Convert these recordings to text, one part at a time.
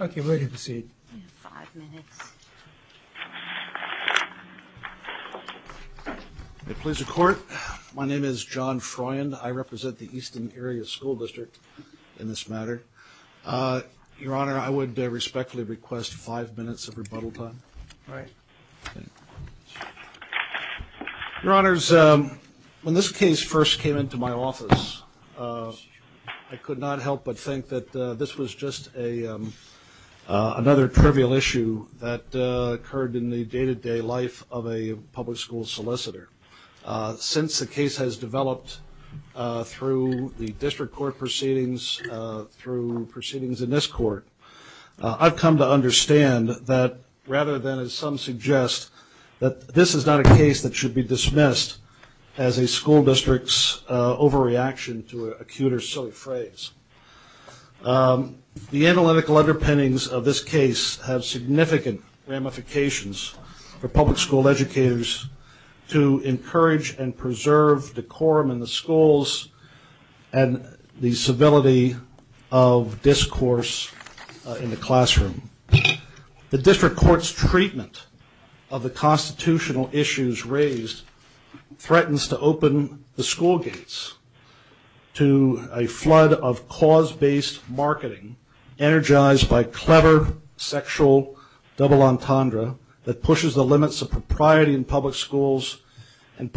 Okay, we're ready to proceed. You have five minutes. May it please the Court. My name is John Froyen. I represent the Easton Area School District in this matter. Your Honor, I would respectfully request five minutes of rebuttal time. All right. Your Honors, when this case first came into my office, I could not help but think that this was just another trivial issue that occurred in the day-to-day life of a public school solicitor. Since the case has developed through the district court proceedings, through proceedings in this court, I've come to understand that rather than, as some suggest, that this is not a case that should be dismissed as a school district's overreaction to an acute or silly phrase. The analytical underpinnings of this case have significant ramifications for public school educators to encourage and preserve decorum in the schools and the civility of discourse in the classroom. The district court's treatment of the constitutional issues raised threatens to open the school gates to a flood of cause-based marketing energized by clever sexual double entendre that pushes the limits of propriety in public schools There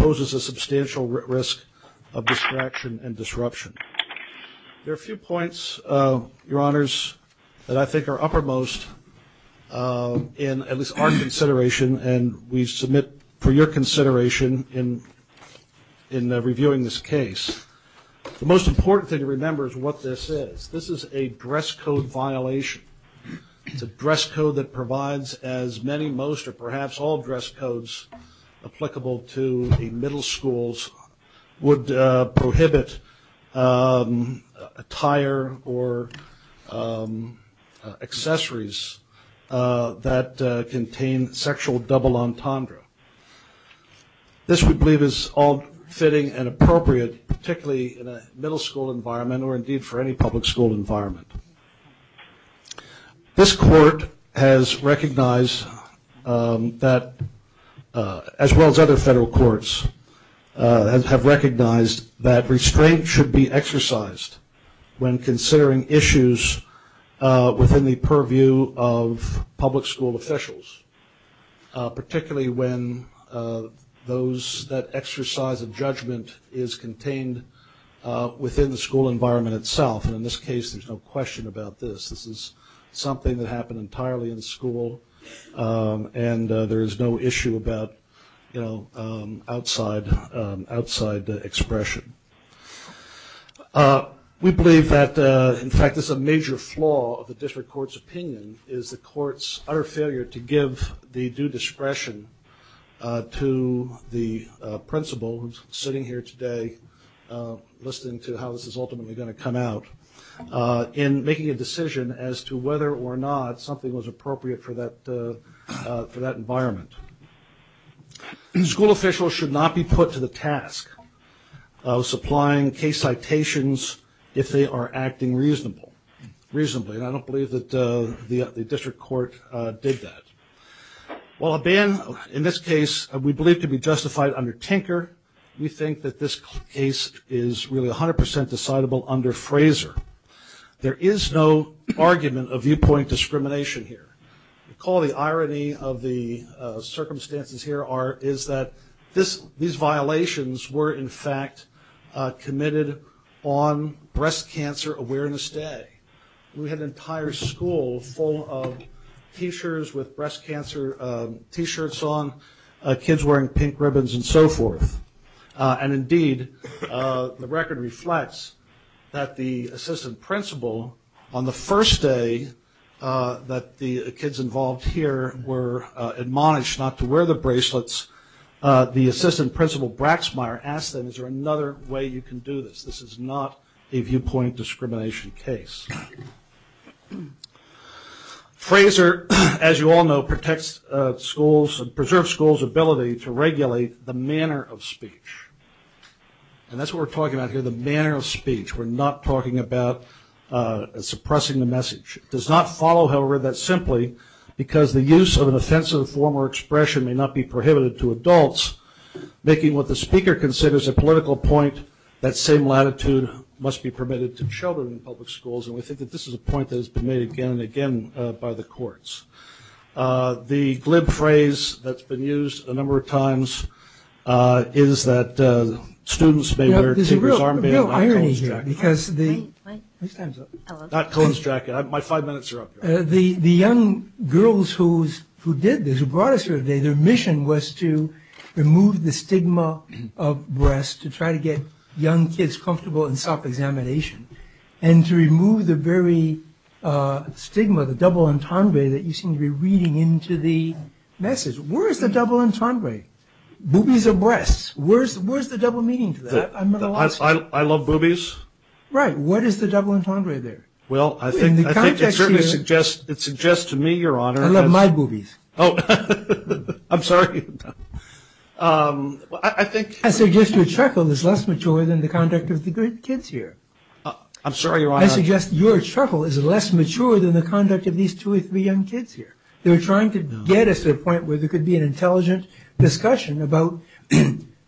are a few points, Your Honors, that I think are uppermost in at least our consideration and we submit for your consideration in reviewing this case. The most important thing to remember is what this is. This is a dress code violation. It's a dress code that provides as many, most, or perhaps all dress codes applicable to the middle schools would prohibit attire or accessories that contain sexual double entendre. This, we believe, is all fitting and appropriate, particularly in a middle school environment or indeed for any public school environment. This court has recognized that, as well as other federal courts, have recognized that restraint should be exercised when considering issues within the purview of public school officials, particularly when those that exercise a judgment is contained within the school environment itself. And in this case, there's no question about this. This is something that happened entirely in school and there is no issue about outside expression. We believe that, in fact, this is a major flaw of the district court's opinion, is the court's utter failure to give the due discretion to the principal, who's sitting here today listening to how this is ultimately going to come out, in making a decision as to whether or not something was appropriate for that environment. School officials should not be put to the task of supplying case citations if they are acting reasonably. And I don't believe that the district court did that. While a ban, in this case, we believe to be justified under Tinker, we think that this case is really 100% decidable under Fraser. There is no argument of viewpoint discrimination here. Recall the irony of the circumstances here is that these violations were, in fact, committed on Breast Cancer Awareness Day. We had an entire school full of T-shirts with breast cancer T-shirts on, kids wearing pink ribbons and so forth. And, indeed, the record reflects that the assistant principal, on the first day that the kids involved here were admonished not to wear the bracelets, the assistant principal Braxmeyer asked them, is there another way you can do this? This is not a viewpoint discrimination case. Fraser, as you all know, protects schools, preserves schools' ability to regulate the manner of speech. And that's what we're talking about here, the manner of speech. We're not talking about suppressing the message. It does not follow, however, that simply because the use of an offensive form or expression may not be prohibited to adults, making what the speaker considers a political point, that same latitude must be permitted to children in public schools. And we think that this is a point that has been made again and again by the courts. The glib phrase that's been used a number of times is that students may wear The young girls who did this, who brought us here today, their mission was to remove the stigma of breasts, to try to get young kids comfortable in self-examination, and to remove the very stigma, the double entendre that you seem to be reading into the message. Where is the double entendre? Boobies or breasts? Where's the double meaning to that? I love boobies. Right. What is the double entendre there? Well, I think it certainly suggests to me, Your Honor, I love my boobies. Oh, I'm sorry. I think I suggest your chuckle is less mature than the conduct of the kids here. I'm sorry, Your Honor. I suggest your chuckle is less mature than the conduct of these two or three young kids here. They were trying to get us to a point where there could be an intelligent discussion about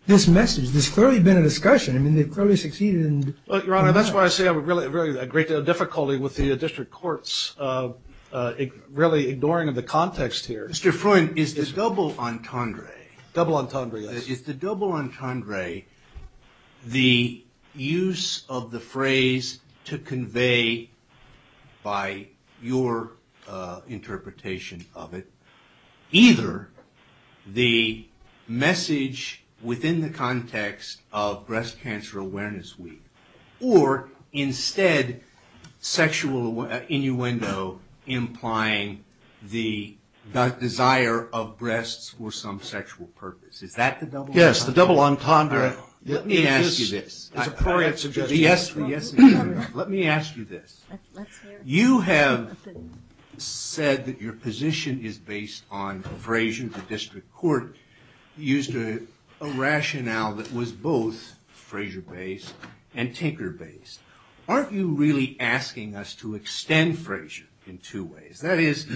this message. There's clearly been a discussion. I mean, they've clearly succeeded in Your Honor, that's why I say I have a great deal of difficulty with the district courts really ignoring the context here. Mr. Freund, is the double entendre Double entendre, yes. Is the double entendre the use of the phrase to convey by your interpretation of it either the message within the context of breast cancer awareness week or instead sexual innuendo implying the desire of breasts for some sexual purpose. Is that the double entendre? Yes, the double entendre. Let me ask you this. Let me ask you this. You have said that your position is based on Frazier, the district court used a rationale that was both Frazier based and Tinker based. Aren't you really asking us to extend Frazier in two ways? That is,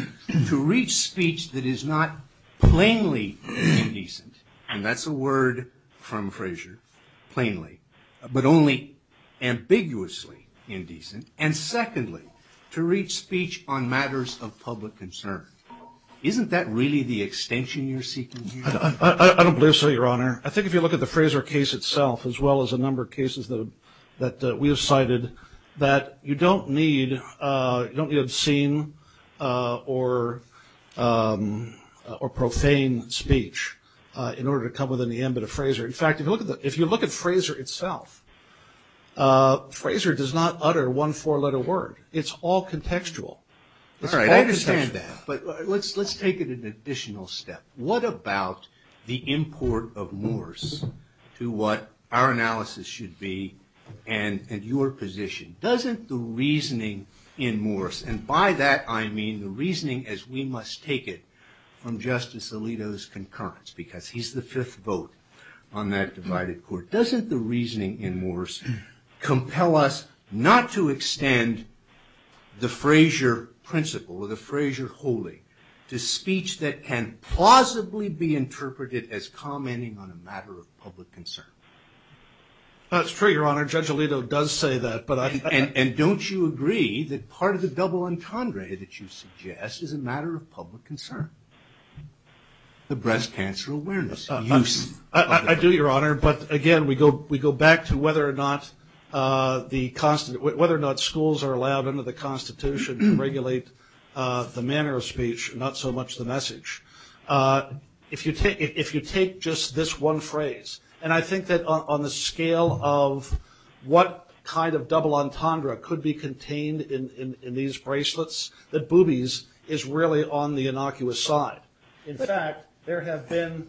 to reach speech that is not plainly indecent and that's a word from Frazier plainly, but only ambiguously indecent and secondly, to reach speech on matters of public concern. Isn't that really the extension you're seeking here? I don't believe so, Your Honor. I think if you look at the Frazier case itself as well as a number of cases that we have cited that you don't need obscene or profane speech in order to come within the ambit of Frazier. In fact, if you look at Frazier itself, Frazier does not utter one four-letter word. It's all contextual. All right, I understand that, but let's take it an additional step. What about the import of Morse to what our analysis should be and your position? Doesn't the reasoning in Morse, and by that I mean the reasoning as we must take it from Justice Alito's concurrence, because he's the fifth vote on that divided court. Doesn't the reasoning in Morse compel us not to extend the Frazier principle or the Frazier holy to speech that can plausibly be interpreted as commenting on a matter of public concern? That's true, Your Honor. Judge Alito does say that. And don't you agree that part of the double entendre that you suggest is a matter of public concern, the breast cancer awareness? I do, Your Honor, but again, we go back to whether or not schools are allowed under the Constitution to regulate the manner of speech, not so much the message. If you take just this one phrase, and I think that on the scale of what kind of double entendre could be contained in these bracelets, that boobies is really on the innocuous side. In fact, there have been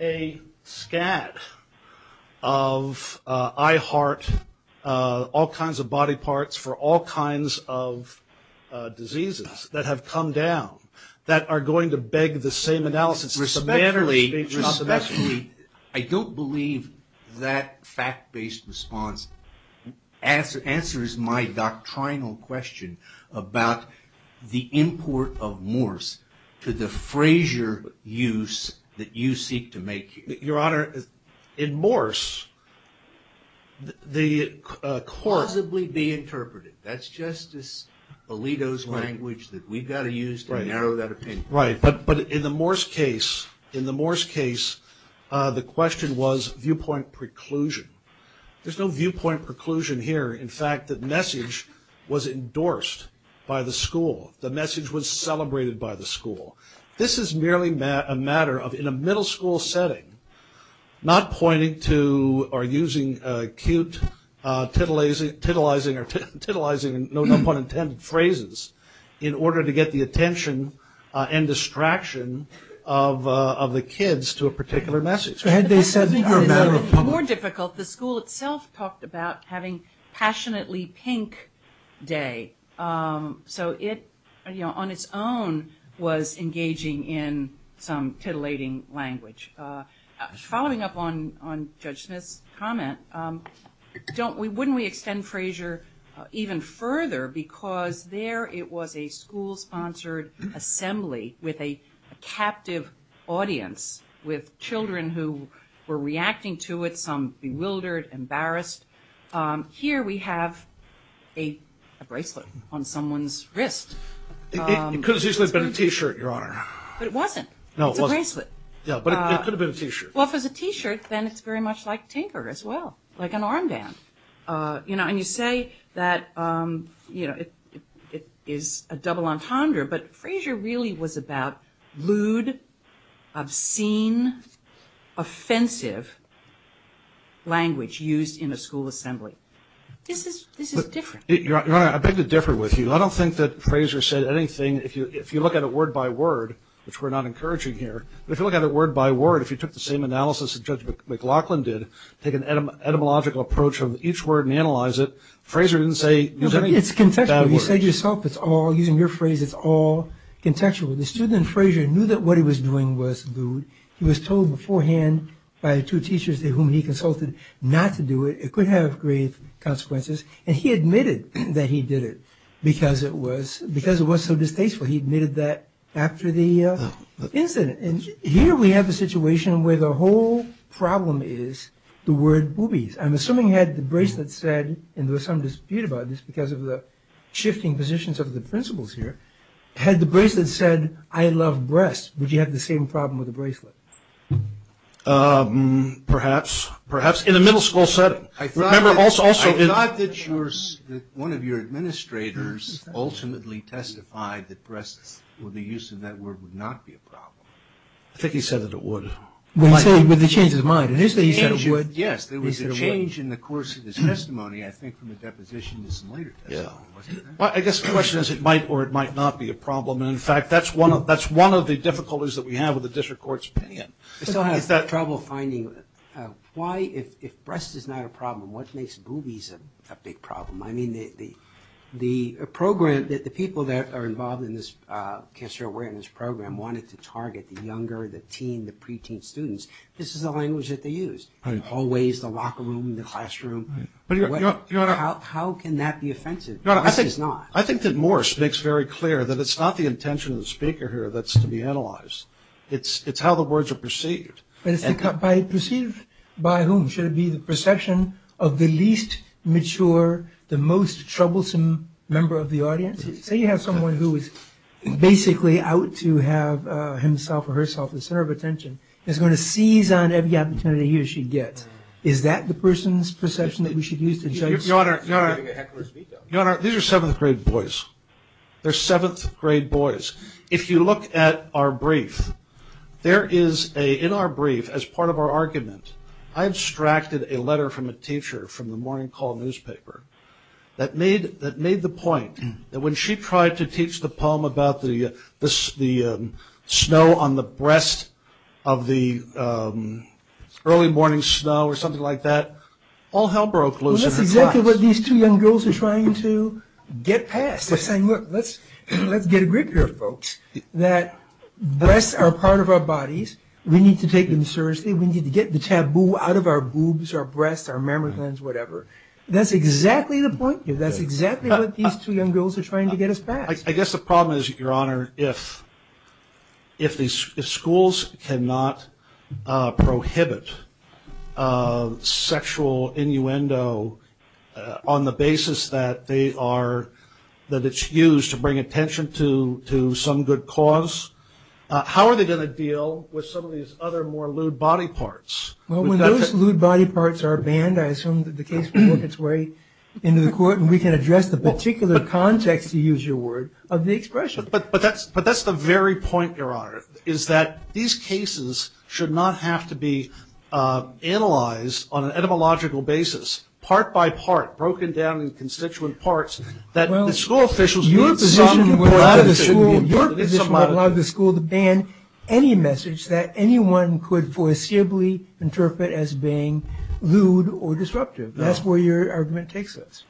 a scat of I heart, all kinds of body parts for all kinds of diseases that have come down that are going to beg the same analysis. Respectfully, I don't believe that fact-based response answers my doctrinal question about the import of Morse to the Frazier use that you seek to make here. Your Honor, in Morse, the course... Alito's language that we've got to use to narrow that opinion. Right, but in the Morse case, the question was viewpoint preclusion. There's no viewpoint preclusion here. In fact, the message was endorsed by the school. The message was celebrated by the school. This is merely a matter of, in a middle school setting, not pointing to who are using acute titillizing and no pun intended phrases in order to get the attention and distraction of the kids to a particular message. So had they said... More difficult, the school itself talked about having passionately pink day. So it, on its own, was engaging in some titillating language. Following up on Judge Smith's comment, wouldn't we extend Frazier even further because there it was a school-sponsored assembly with a captive audience with children who were reacting to it, some bewildered, embarrassed. Here we have a bracelet on someone's wrist. It could have easily been a T-shirt, Your Honor. But it wasn't. It's a bracelet. Yeah, but it could have been a T-shirt. Well, if it's a T-shirt, then it's very much like tinker as well, like an armband. And you say that it is a double entendre, but Frazier really was about lewd, obscene, offensive language used in a school assembly. This is different. Your Honor, I beg to differ with you. I don't think that Frazier said anything. If you look at it word by word, which we're not encouraging here, but if you look at it word by word, if you took the same analysis that Judge McLaughlin did, take an etymological approach of each word and analyze it, Frazier didn't say any bad words. No, but it's contextual. You said yourself it's all, using your phrase, it's all contextual. The student in Frazier knew that what he was doing was lewd. He was told beforehand by the two teachers to whom he consulted not to do it. It could have grave consequences. And he admitted that he did it because it was so distasteful. He admitted that after the incident. And here we have a situation where the whole problem is the word boobies. I'm assuming had the bracelet said, and there was some dispute about this because of the shifting positions of the principals here, had the bracelet said, I love breasts, would you have the same problem with the bracelet? Perhaps. Perhaps in a middle school setting. I thought that one of your administrators ultimately testified that breasts, or the use of that word, would not be a problem. I think he said that it would. He said it would with a change of mind. Yes, there was a change in the course of his testimony, I think from the deposition to some later testimony. I guess the question is it might or it might not be a problem. In fact, that's one of the difficulties that we have with the district court's opinion. I still have trouble finding why if breast is not a problem, what makes boobies a big problem? I mean, the program, the people that are involved in this cancer awareness program wanted to target the younger, the teen, the pre-teen students. This is the language that they used. Hallways, the locker room, the classroom. How can that be offensive? Breast is not. I think that Morse makes very clear that it's not the intention of the speaker here that's to be analyzed. It's how the words are perceived. Perceived by whom? Should it be the perception of the least mature, the most troublesome member of the audience? Say you have someone who is basically out to have himself or herself the center of attention. He's going to seize on every opportunity he or she gets. Is that the person's perception that we should use to judge? Your Honor, these are seventh grade boys. They're seventh grade boys. If you look at our brief, there is a, in our brief, as part of our argument, I abstracted a letter from a teacher from the Morning Call newspaper that made the point that when she tried to teach the poem about the snow on the breast of the early morning snow or something like that, all hell broke loose in her thoughts. Well, that's exactly what these two young girls are trying to get past. We're saying, look, let's get a grip here, folks, that breasts are part of our bodies. We need to take them seriously. We need to get the taboo out of our boobs, our breasts, our mammograms, whatever. That's exactly the point here. That's exactly what these two young girls are trying to get us past. I guess the problem is, Your Honor, if schools cannot prohibit sexual innuendo on the basis that it's used to bring attention to some good cause, how are they going to deal with some of these other more lewd body parts? Well, when those lewd body parts are banned, I assume that the case will work its way into the court and we can address the particular context, to use your word, of the expression. But that's the very point, Your Honor, is that these cases should not have to be analyzed on an etymological basis, part by part, broken down into constituent parts, that the school officials need some latitude. Your position would allow the school to ban any message that anyone could forcibly interpret as being lewd or disruptive. That's where your argument takes us.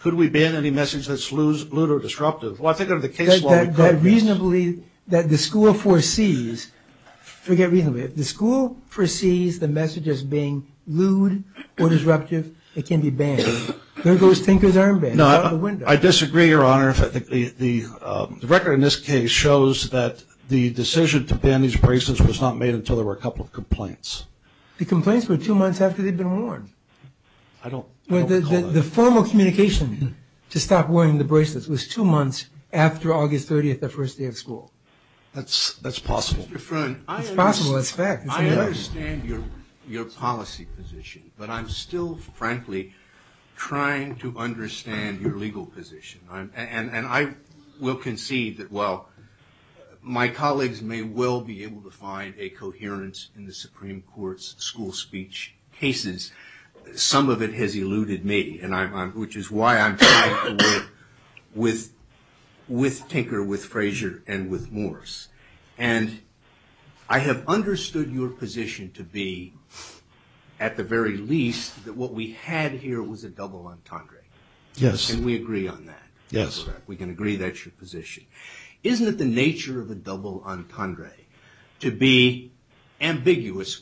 Could we ban any message that's lewd or disruptive? Well, I think under the case law we could. That the school foresees, forget reasonably, if the school foresees the message as being lewd or disruptive, it can be banned. There goes Tinker's armband out the window. I disagree, Your Honor. The record in this case shows that the decision to ban these bracelets was not made until there were a couple of complaints. The complaints were two months after they'd been worn. The formal communication to stop wearing the bracelets was two months after August 30th, the first day of school. That's possible. It's possible, it's fact. I understand your policy position, but I'm still, frankly, trying to understand your legal position. And I will concede that while my colleagues may well be able to find a coherence in the Supreme Court's school speech cases, some of it has eluded me, which is why I'm trying to work with Tinker, with Frazier, and with Morris. And I have understood your position to be, at the very least, that what we had here was a double entendre. Yes. And we agree on that. Yes. We can agree that's your position. Isn't it the nature of a double entendre to be ambiguous?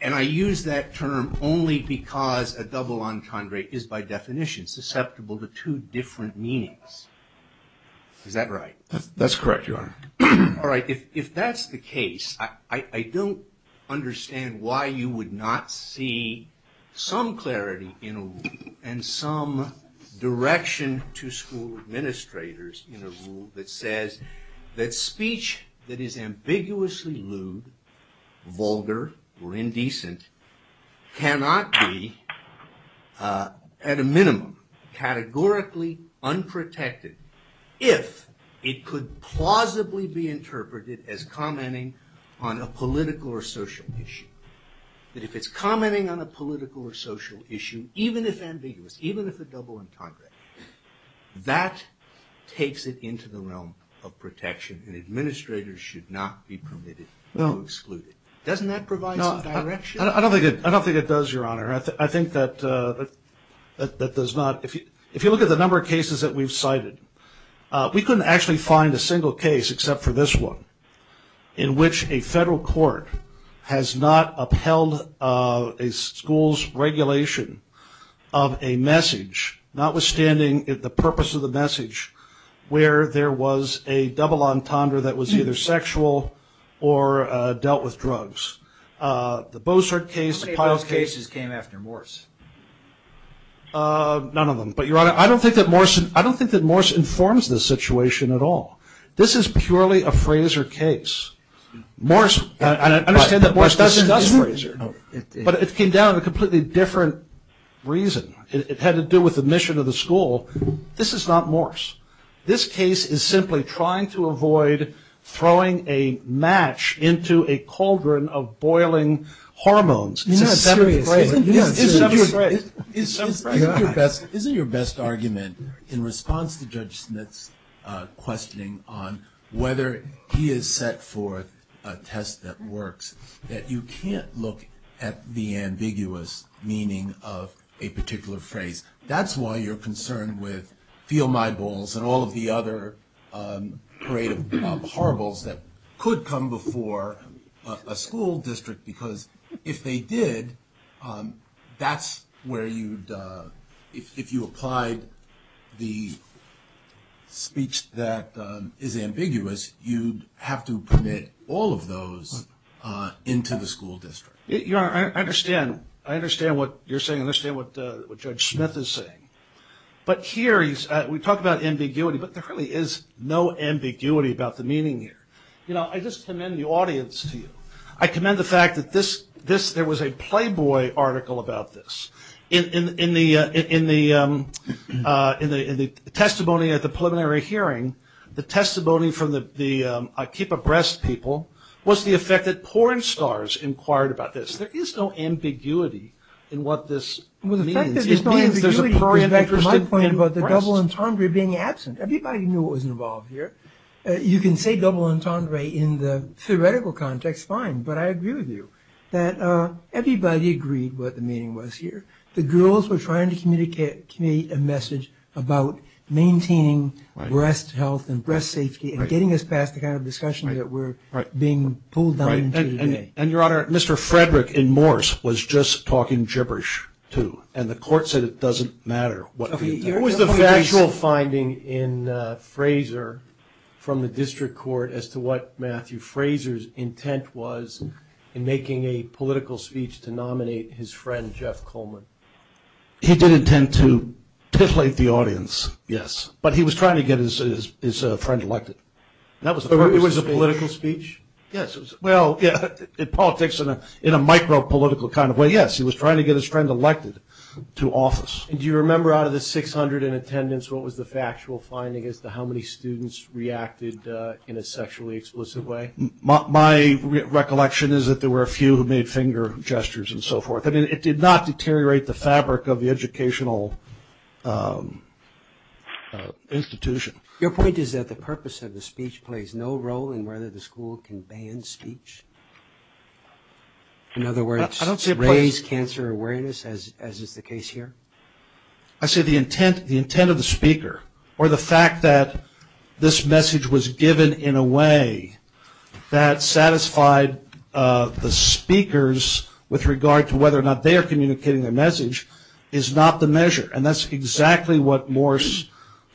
And I use that term only because a double entendre is, by definition, susceptible to two different meanings. Is that right? That's correct, Your Honor. All right, if that's the case, I don't understand why you would not see some clarity in a rule and some direction to school administrators in a rule that says that speech that is ambiguously lewd, vulgar, or indecent, cannot be, at a minimum, categorically unprotected if it could plausibly be interpreted as commenting on a political or social issue. That if it's commenting on a political or social issue, even if ambiguous, even if a double entendre, that takes it into the realm of protection and administrators should not be permitted to exclude it. Doesn't that provide some direction? I don't think it does, Your Honor. I think that does not. If you look at the number of cases that we've cited, we couldn't actually find a single case except for this one, in which a federal court has not upheld a school's regulation of a message, notwithstanding the purpose of the message, where there was a double entendre that was either sexual or dealt with drugs. The Bossert case, the Pyle case. How many of those cases came after Morse? None of them. But, Your Honor, I don't think that Morse informs the situation at all. This is purely a Frazer case. I understand that Morse doesn't discuss Frazer, but it came down to a completely different reason. It had to do with the mission of the school. This is not Morse. This case is simply trying to avoid throwing a match into a cauldron of boiling hormones. Isn't your best argument in response to Judge Smith's questioning on whether he is set for a test that works, that you can't look at the ambiguous meaning of a particular phrase? That's why you're concerned with feel-my-balls and all of the other parade of horribles that could come before a school district, because if they did, that's where you'd – if you applied the speech that is ambiguous, you'd have to permit all of those into the school district. Your Honor, I understand. I understand what you're saying. I understand what Judge Smith is saying. But here, we talk about ambiguity, but there really is no ambiguity about the meaning here. You know, I just commend the audience to you. I commend the fact that this – there was a Playboy article about this. In the testimony at the preliminary hearing, the testimony from the I Keep a Breast people was the effect that porn stars inquired about this. There is no ambiguity in what this means. Well, the fact that there's no ambiguity goes back to my point about the double entendre being absent. Everybody knew what was involved here. You can say double entendre in the theoretical context, fine, but I agree with you that everybody agreed what the meaning was here. The girls were trying to communicate a message about maintaining breast health and breast safety and getting us past the kind of discussion that we're being pulled down into today. And, Your Honor, Mr. Frederick in Morse was just talking gibberish, too, and the court said it doesn't matter what the intent was. What was the factual finding in Frazer from the district court as to what Matthew Frazer's intent was in making a political speech to nominate his friend Jeff Coleman? He did intend to titillate the audience, yes, but he was trying to get his friend elected. That was the purpose of the speech? It was a political speech? Yes. Well, in politics, in a micro-political kind of way, yes. He was trying to get his friend elected to office. Do you remember out of the 600 in attendance, what was the factual finding as to how many students reacted in a sexually explicit way? My recollection is that there were a few who made finger gestures and so forth. I mean, it did not deteriorate the fabric of the educational institution. Your point is that the purpose of the speech plays no role in whether the school can ban speech? In other words, raise cancer awareness, as is the case here? I say the intent of the speaker, or the fact that this message was given in a way that satisfied the speakers with regard to whether or not they are communicating their message, is not the measure. And that's exactly what Morris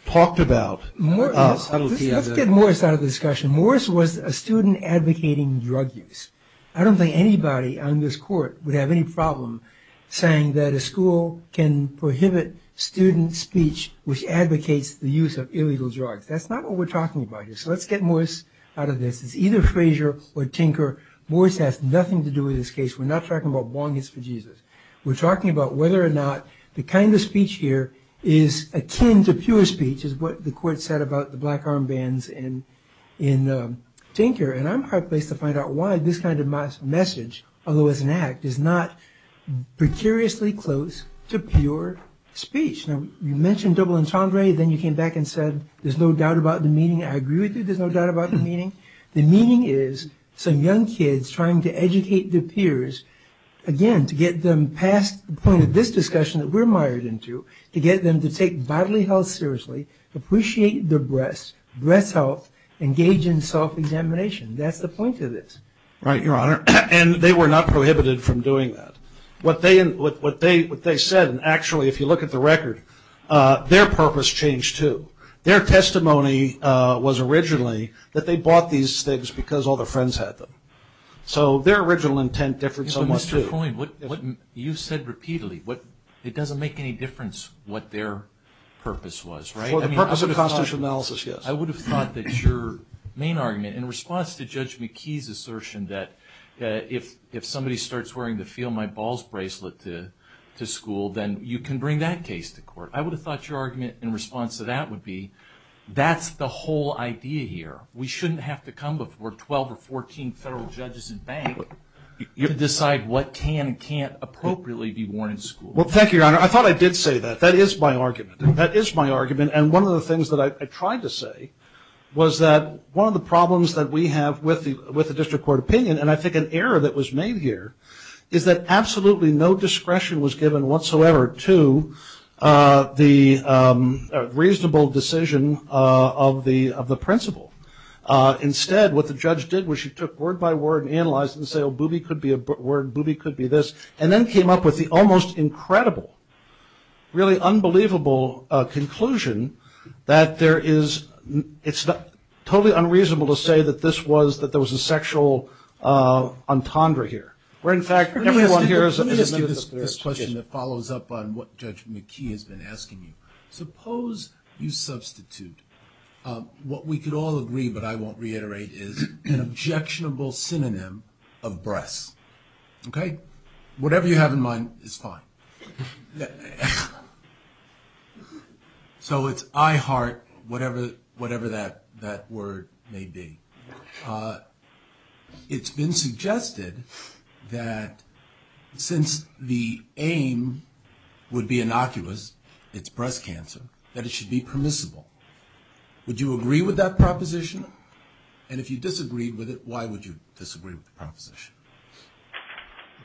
talked about. Let's get Morris out of the discussion. Morris was a student advocating drug use. I don't think anybody on this court would have any problem saying that a school can prohibit student speech which advocates the use of illegal drugs. That's not what we're talking about here. So let's get Morris out of this. It's either Frazier or Tinker. Morris has nothing to do with this case. We're not talking about bong hits for Jesus. We're talking about whether or not the kind of speech here is akin to pure speech, is what the court said about the black armbands in Tinker. And I'm heart-placed to find out why this kind of message, although it's an act, is not precariously close to pure speech. Now, you mentioned double entendre. Then you came back and said there's no doubt about the meaning. I agree with you there's no doubt about the meaning. The meaning is some young kids trying to educate their peers, again, to get them past the point of this discussion that we're mired into, to get them to take bodily health seriously, appreciate their breasts, breast health, engage in self-examination. That's the point of this. Right, Your Honor. And they were not prohibited from doing that. What they said, and actually, if you look at the record, their purpose changed, too. Their testimony was originally that they bought these things because all their friends had them. So their original intent differed somewhat, too. Mr. Coyne, you've said repeatedly it doesn't make any difference what their purpose was, right? For the purpose of the constitutional analysis, yes. I would have thought that your main argument in response to Judge McKee's assertion that if somebody starts wearing the Feel My Balls bracelet to school, then you can bring that case to court. I would have thought your argument in response to that would be that's the whole idea here. We shouldn't have to come before 12 or 14 federal judges and banks to decide what can and can't appropriately be worn in school. Well, thank you, Your Honor. I thought I did say that. That is my argument. That is my argument. And one of the things that I tried to say was that one of the problems that we have with the district court opinion, and I think an error that was made here, is that absolutely no discretion was given whatsoever to the reasonable decision of the principal. Instead, what the judge did was she took word by word and analyzed it and said, oh, boobie could be a word, boobie could be this, and then came up with the almost incredible, really unbelievable conclusion that there is, it's totally unreasonable to say that this was, that there was a sexual entendre here. Where, in fact, everyone here is. Let me ask you this question that follows up on what Judge McKee has been asking you. Suppose you substitute what we could all agree, but I won't reiterate, is an objectionable synonym of breasts. Okay? Whatever you have in mind is fine. So it's I heart whatever that word may be. It's been suggested that since the aim would be innocuous, it's breast cancer, that it should be permissible. Would you agree with that proposition? And if you disagreed with it, why would you disagree with the proposition?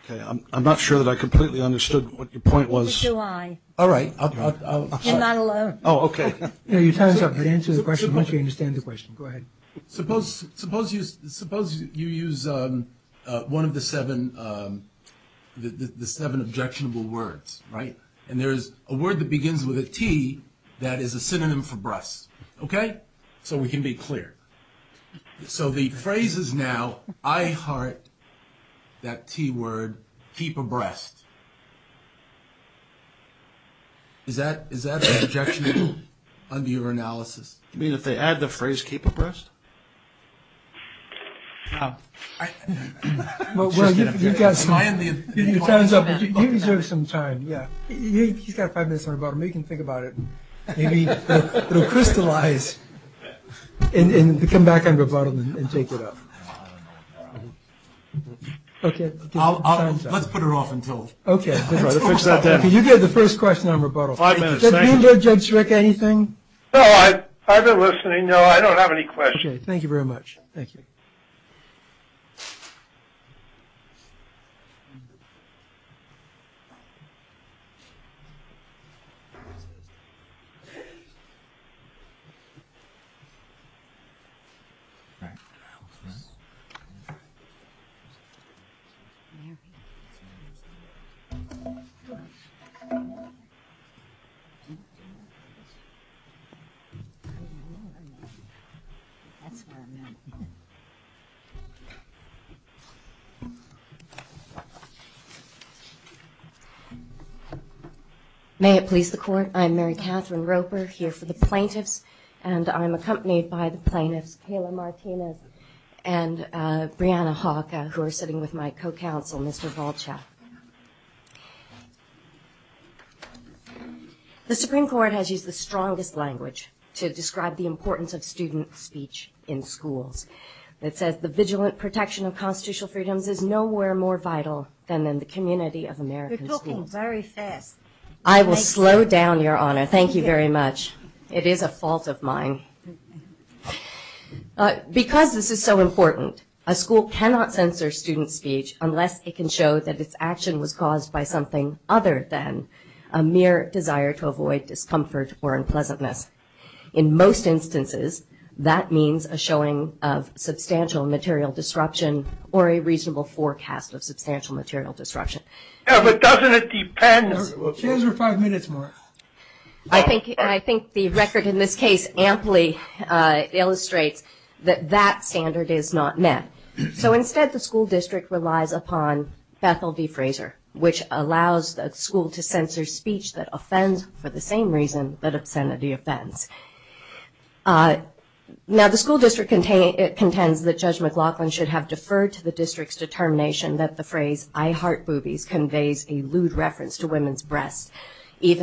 Okay, I'm not sure that I completely understood what your point was. But do I. All right. You're not alone. Oh, okay. Yeah, you tell us how to answer the question once you understand the question. Go ahead. Suppose you use one of the seven objectionable words, right? And there is a word that begins with a T that is a synonym for breasts. Okay? So we can be clear. So the phrase is now I heart that T word keep abreast. Is that an objectionable under your analysis? You mean if they add the phrase keep abreast? Well, you've got some time. Yeah. He's got five minutes on rebuttal. Maybe he can think about it. Maybe it will crystallize and come back on rebuttal and take it up. Let's put her off until. Okay. You get the first question on rebuttal. Judge Rick, anything? No, I've been listening. I don't have any questions. Okay. Thank you very much. Thank you. That's where I'm at. May it please the court. I'm Mary Catherine Roper here for the plaintiffs, and I'm accompanied by the plaintiffs Kayla Martinez and Brianna Hawka, who are sitting with my co-counsel, Mr. Volchek. The Supreme Court has used the strongest language to describe the importance of student speech in schools. It says the vigilant protection of constitutional freedoms is nowhere more vital than in the community of American schools. You're talking very fast. I will slow down, Your Honor. Thank you very much. It is a fault of mine. Because this is so important, a school cannot censor student speech unless it can show that its action was caused by something other than a mere desire to avoid discomfort or unpleasantness. In most instances, that means a showing of substantial material disruption or a reasonable forecast of substantial material disruption. Yeah, but doesn't it depend? Two or five minutes more. I think the record in this case amply illustrates that that standard is not met. So instead, the school district relies upon Bethel v. Fraser, which allows the school to censor speech that offends for the same reason that obscenity offends. Now, the school district contends that Judge McLaughlin should have deferred to the district's determination that the phrase, I heart boobies conveys a lewd reference to women's breasts, is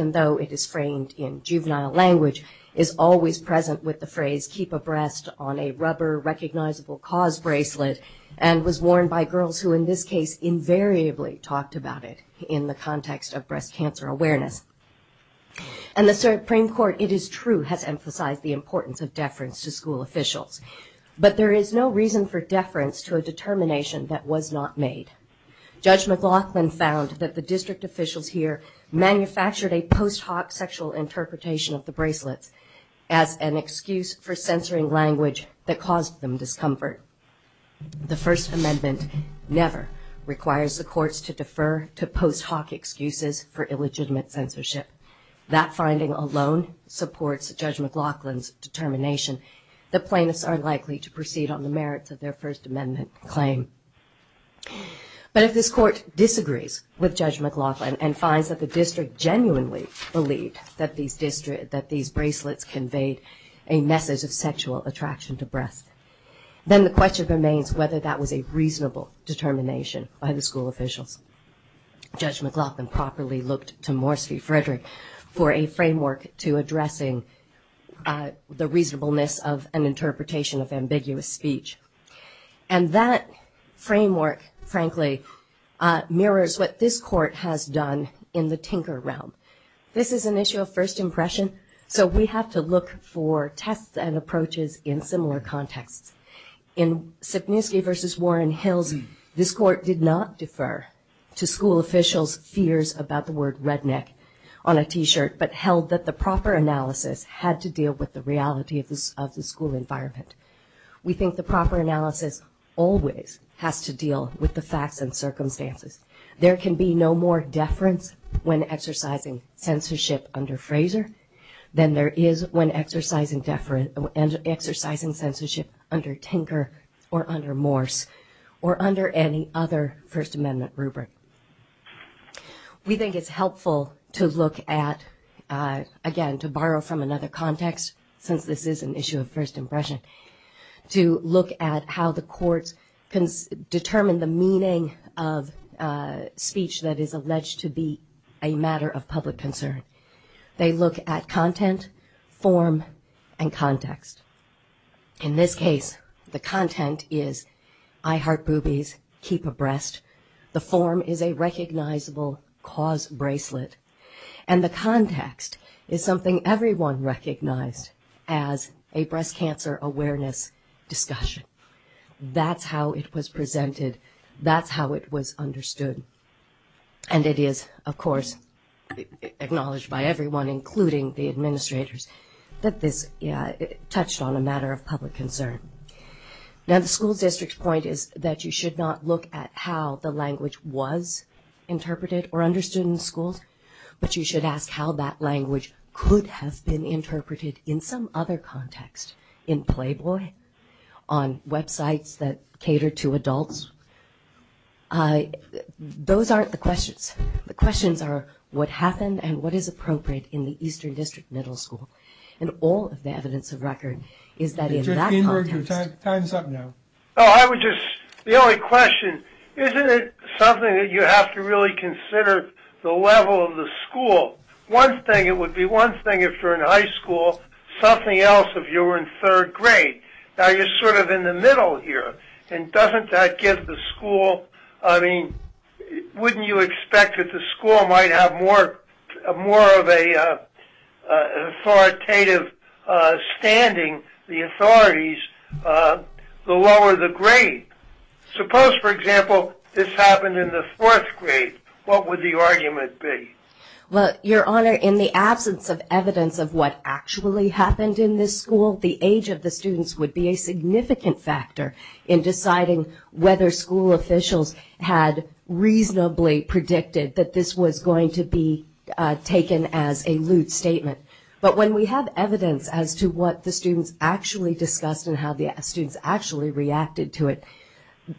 always present with the phrase, I keep a breast on a rubber recognizable cause bracelet, and was worn by girls who in this case invariably talked about it in the context of breast cancer awareness. And the Supreme Court, it is true, has emphasized the importance of deference to school officials. But there is no reason for deference to a determination that was not made. Judge McLaughlin found that the district officials here manufactured a post hoc sexual interpretation of the bracelets as an excuse for censoring language that caused them discomfort. The First Amendment never requires the courts to defer to post hoc excuses for illegitimate censorship. That finding alone supports Judge McLaughlin's determination that plaintiffs are likely to proceed on the merits of their First Amendment claim. But if this court disagrees with Judge McLaughlin and finds that the district officials have genuinely believed that these bracelets conveyed a message of sexual attraction to breasts, then the question remains whether that was a reasonable determination by the school officials. Judge McLaughlin properly looked to Morsi Frederick for a framework to addressing the reasonableness of an interpretation of ambiguous speech. And that framework, frankly, mirrors what this court has done in the tinker realm. This is an issue of first impression, so we have to look for tests and approaches in similar contexts. In Sapniewski v. Warren Hills, this court did not defer to school officials' fears about the word redneck on a T-shirt, but held that the proper analysis had to deal with the reality of the school environment. We think the proper analysis always has to deal with the facts and circumstances. There can be no more deference when exercising censorship under Fraser than there is when exercising censorship under Tinker or under Morse or under any other First Amendment rubric. We think it's helpful to look at, again, to borrow from another context since this is an issue of first impression, to look at how the courts can determine the meaning of speech that is alleged to be a matter of public concern. They look at content, form, and context. In this case, the content is, I heart boobies, keep abreast. The form is a recognizable cause bracelet. And the context is something everyone recognized as a breast cancer awareness discussion. That's how it was presented. That's how it was understood. And it is, of course, acknowledged by everyone, including the administrators that this touched on a matter of public concern. Now the school district's point is that you should not look at how the language was interpreted or understood in schools, but you should ask how that language could have been interpreted in some other context, in Playboy, on websites that cater to adults. Those aren't the questions. The questions are what happened and what is appropriate in the Eastern District Middle School. And all of the evidence of record is that in that context. Time's up now. I would just, the only question, isn't it something that you have to really consider the level of the school? One thing, it would be one thing if you're in high school, something else if you were in third grade. Now you're sort of in the middle here and doesn't that give the school, I mean, wouldn't you expect that the school might have more of a authoritative standing, the authorities, the lower the grade? Suppose for example, this happened in the fourth grade. What would the argument be? Well, Your Honor, in the absence of evidence of what actually happened in this school, the age of the students would be a significant factor in deciding whether school officials had reasonably predicted that this was going to be taken as a lewd statement. But when we have evidence as to what the students actually discussed and how the students actually reacted to it,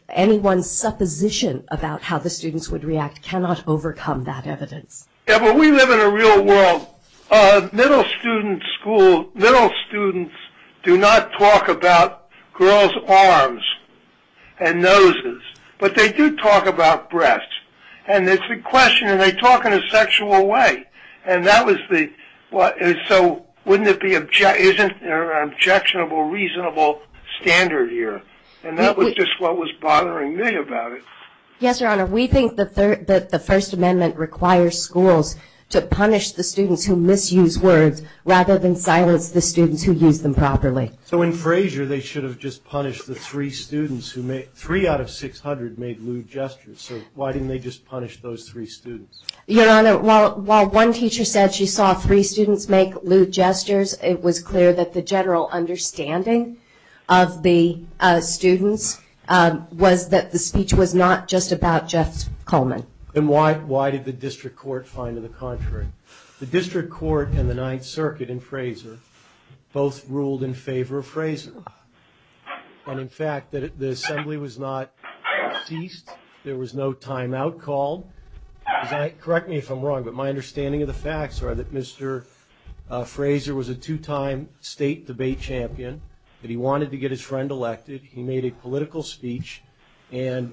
anyone's supposition about how the students would react cannot overcome that evidence. Yeah, but we live in a real world. Middle student school, middle students do not talk about girls' arms and noses, but they do talk about breasts. And it's a question, and they talk in a sexual way. And that was the, so wouldn't it be objectionable, reasonable standard here? And that was just what was bothering me about it. Yes, Your Honor. We think that the First Amendment requires schools to punish the students who misuse words rather than silence the students who use them properly. So in Frazier, they should have just punished the three students who made, three out of 600 made lewd gestures. So why didn't they just punish those three students? Your Honor, while one teacher said she saw three students make lewd gestures, it was clear that the general understanding of the students was that the speech was not just about Jeff Coleman. And why did the district court find to the contrary? The district court and the Ninth Circuit in Frazier both ruled in favor of Frazier. And in fact, the assembly was not ceased. There was no timeout called. Correct me if I'm wrong, but my understanding of the facts are that Mr. Frazier was a two-time state debate champion, that he wanted to get his friend elected. He made a political speech and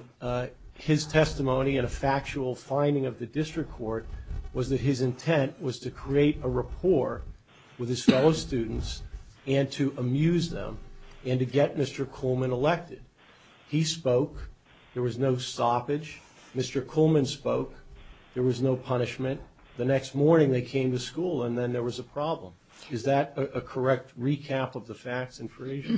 his testimony and a factual finding of the district court was that his intent was to create a rapport with his fellow students and to amuse them and to get Mr. Coleman elected. He spoke, there was no stoppage. Mr. Coleman spoke, there was no punishment. The next morning they came to school and then there was a problem. Is that a correct recap of the facts in Frazier?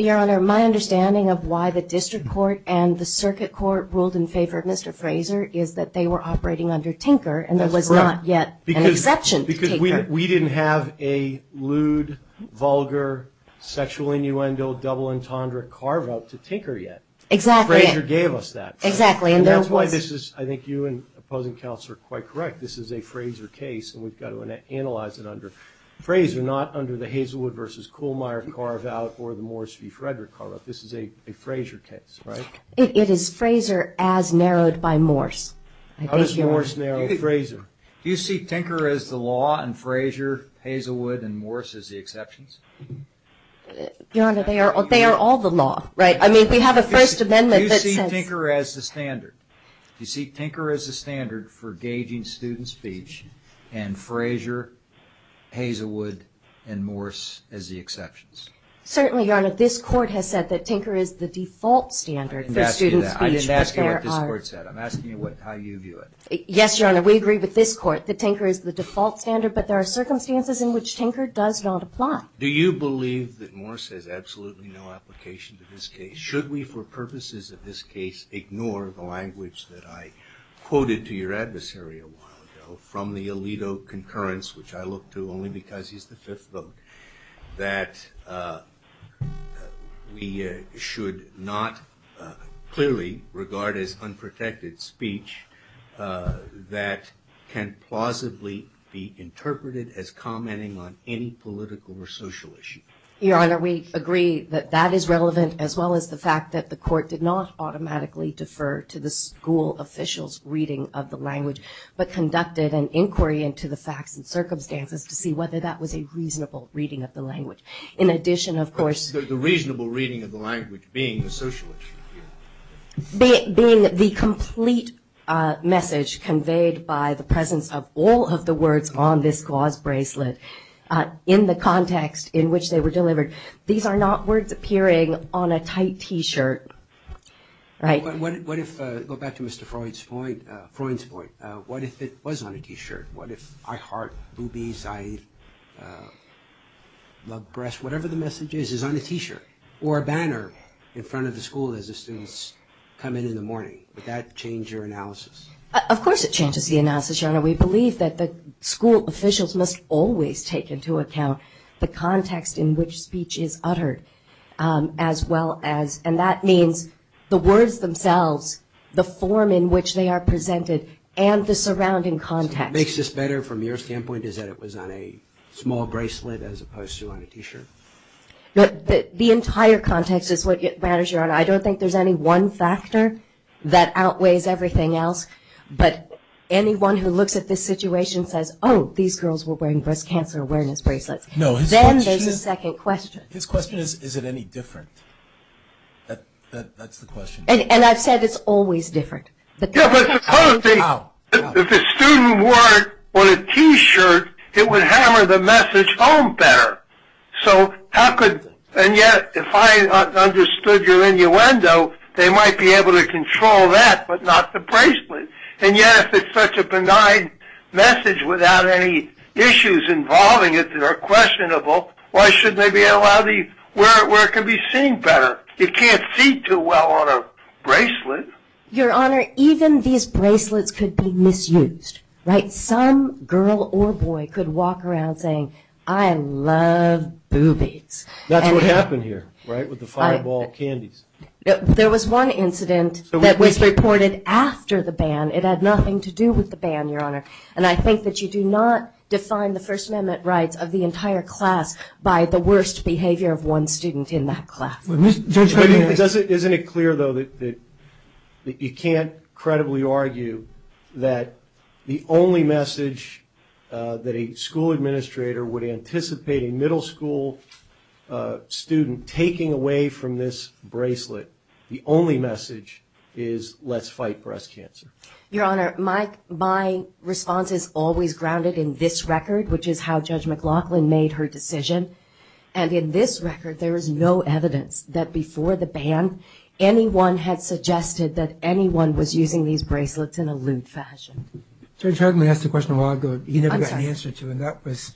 Your Honor, my understanding of why the district court and the circuit court ruled in favor of Mr. Frazier is that they were operating under Tinker and there was not yet an early, lewd, vulgar, sexual innuendo, double entendre carve out to Tinker yet. Exactly. Frazier gave us that. Exactly. And that's why this is, I think you and opposing counsel are quite correct. This is a Frazier case and we've got to analyze it under Frazier, not under the Hazelwood versus Kuhlmeyer carve out or the Morris v. Frederick carve out. This is a Frazier case, right? It is Frazier as narrowed by Morris. How does Morris narrow Frazier? Do you see Tinker as the law and Frazier, Hazelwood and Morris as the exceptions? Your Honor, they are, they are all the law, right? I mean, we have a first amendment that says. Do you see Tinker as the standard? Do you see Tinker as the standard for gauging student speech and Frazier, Hazelwood and Morris as the exceptions? Certainly, Your Honor, this court has said that Tinker is the default standard for student speech. I didn't ask you what this court said. I'm asking you how you view it. Yes, Your Honor, we agree with this court that Tinker is the default standard, but there are circumstances in which Tinker does not apply. Do you believe that Morris has absolutely no application to this case? Should we, for purposes of this case, ignore the language that I quoted to your adversary a while ago from the Alito concurrence, which I look to only because he's the fifth vote, that we should not clearly regard as unprotected speech, that can plausibly be interpreted as commenting on any political or social issue? Your Honor, we agree that that is relevant, as well as the fact that the court did not automatically defer to the school officials reading of the language, but conducted an inquiry into the facts and circumstances to see whether that was a reasonable reading of the language. In addition, of course, the reasonable reading of the language being the socialist, being the complete message conveyed by the presence of all of the words on this gauze bracelet in the context in which they were delivered. These are not words appearing on a tight T-shirt, right? What if, go back to Mr. Freud's point, Freud's point, what if it was on a T-shirt? What if I heart boobies, I love breasts, whatever the message is, is on a T-shirt or a banner in front of the school as the students come in in the morning? Would that change your analysis? Of course it changes the analysis, Your Honor. We believe that the school officials must always take into account the context in which speech is uttered, as well as, and that means the words themselves, the form in which they are presented, and the surrounding context. What makes this better from your standpoint is that it was on a small bracelet as opposed to on a T-shirt? The entire context is what matters, Your Honor. I don't think there's any one factor that outweighs everything else, but anyone who looks at this situation says, oh, these girls were wearing breast cancer awareness bracelets. Then there's a second question. His question is, is it any different? That's the question. And I've said it's always different. Yeah, but suppose if a student wore it on a T-shirt, it would hammer the message home better. So how could, and yet if I understood your innuendo, they might be able to control that, but not the bracelet. And yet if it's such a benign message without any issues involving it that are questionable, why shouldn't they be allowed to wear it where it can be seen better? You can't see too well on a bracelet. Your Honor, even these bracelets could be misused, right? Some girl or boy could walk around saying, I love boobies. That's what happened here, right, with the fireball candies. There was one incident that was reported after the ban. It had nothing to do with the ban, Your Honor. And I think that you do not define the First Amendment rights of the entire class by the worst behavior of one student in that class. Isn't it clear, though, that you can't credibly argue that the only message that a school administrator would anticipate a middle school student taking away from this bracelet, the only message is let's fight breast cancer? Your Honor, my response is always grounded in this record, which is how Judge McLaughlin made her decision. And in this record, there is no evidence that before the ban, anyone had suggested that anyone was using these bracelets in a lewd fashion. Judge Hageman asked a question a while ago he never got an answer to, and that was,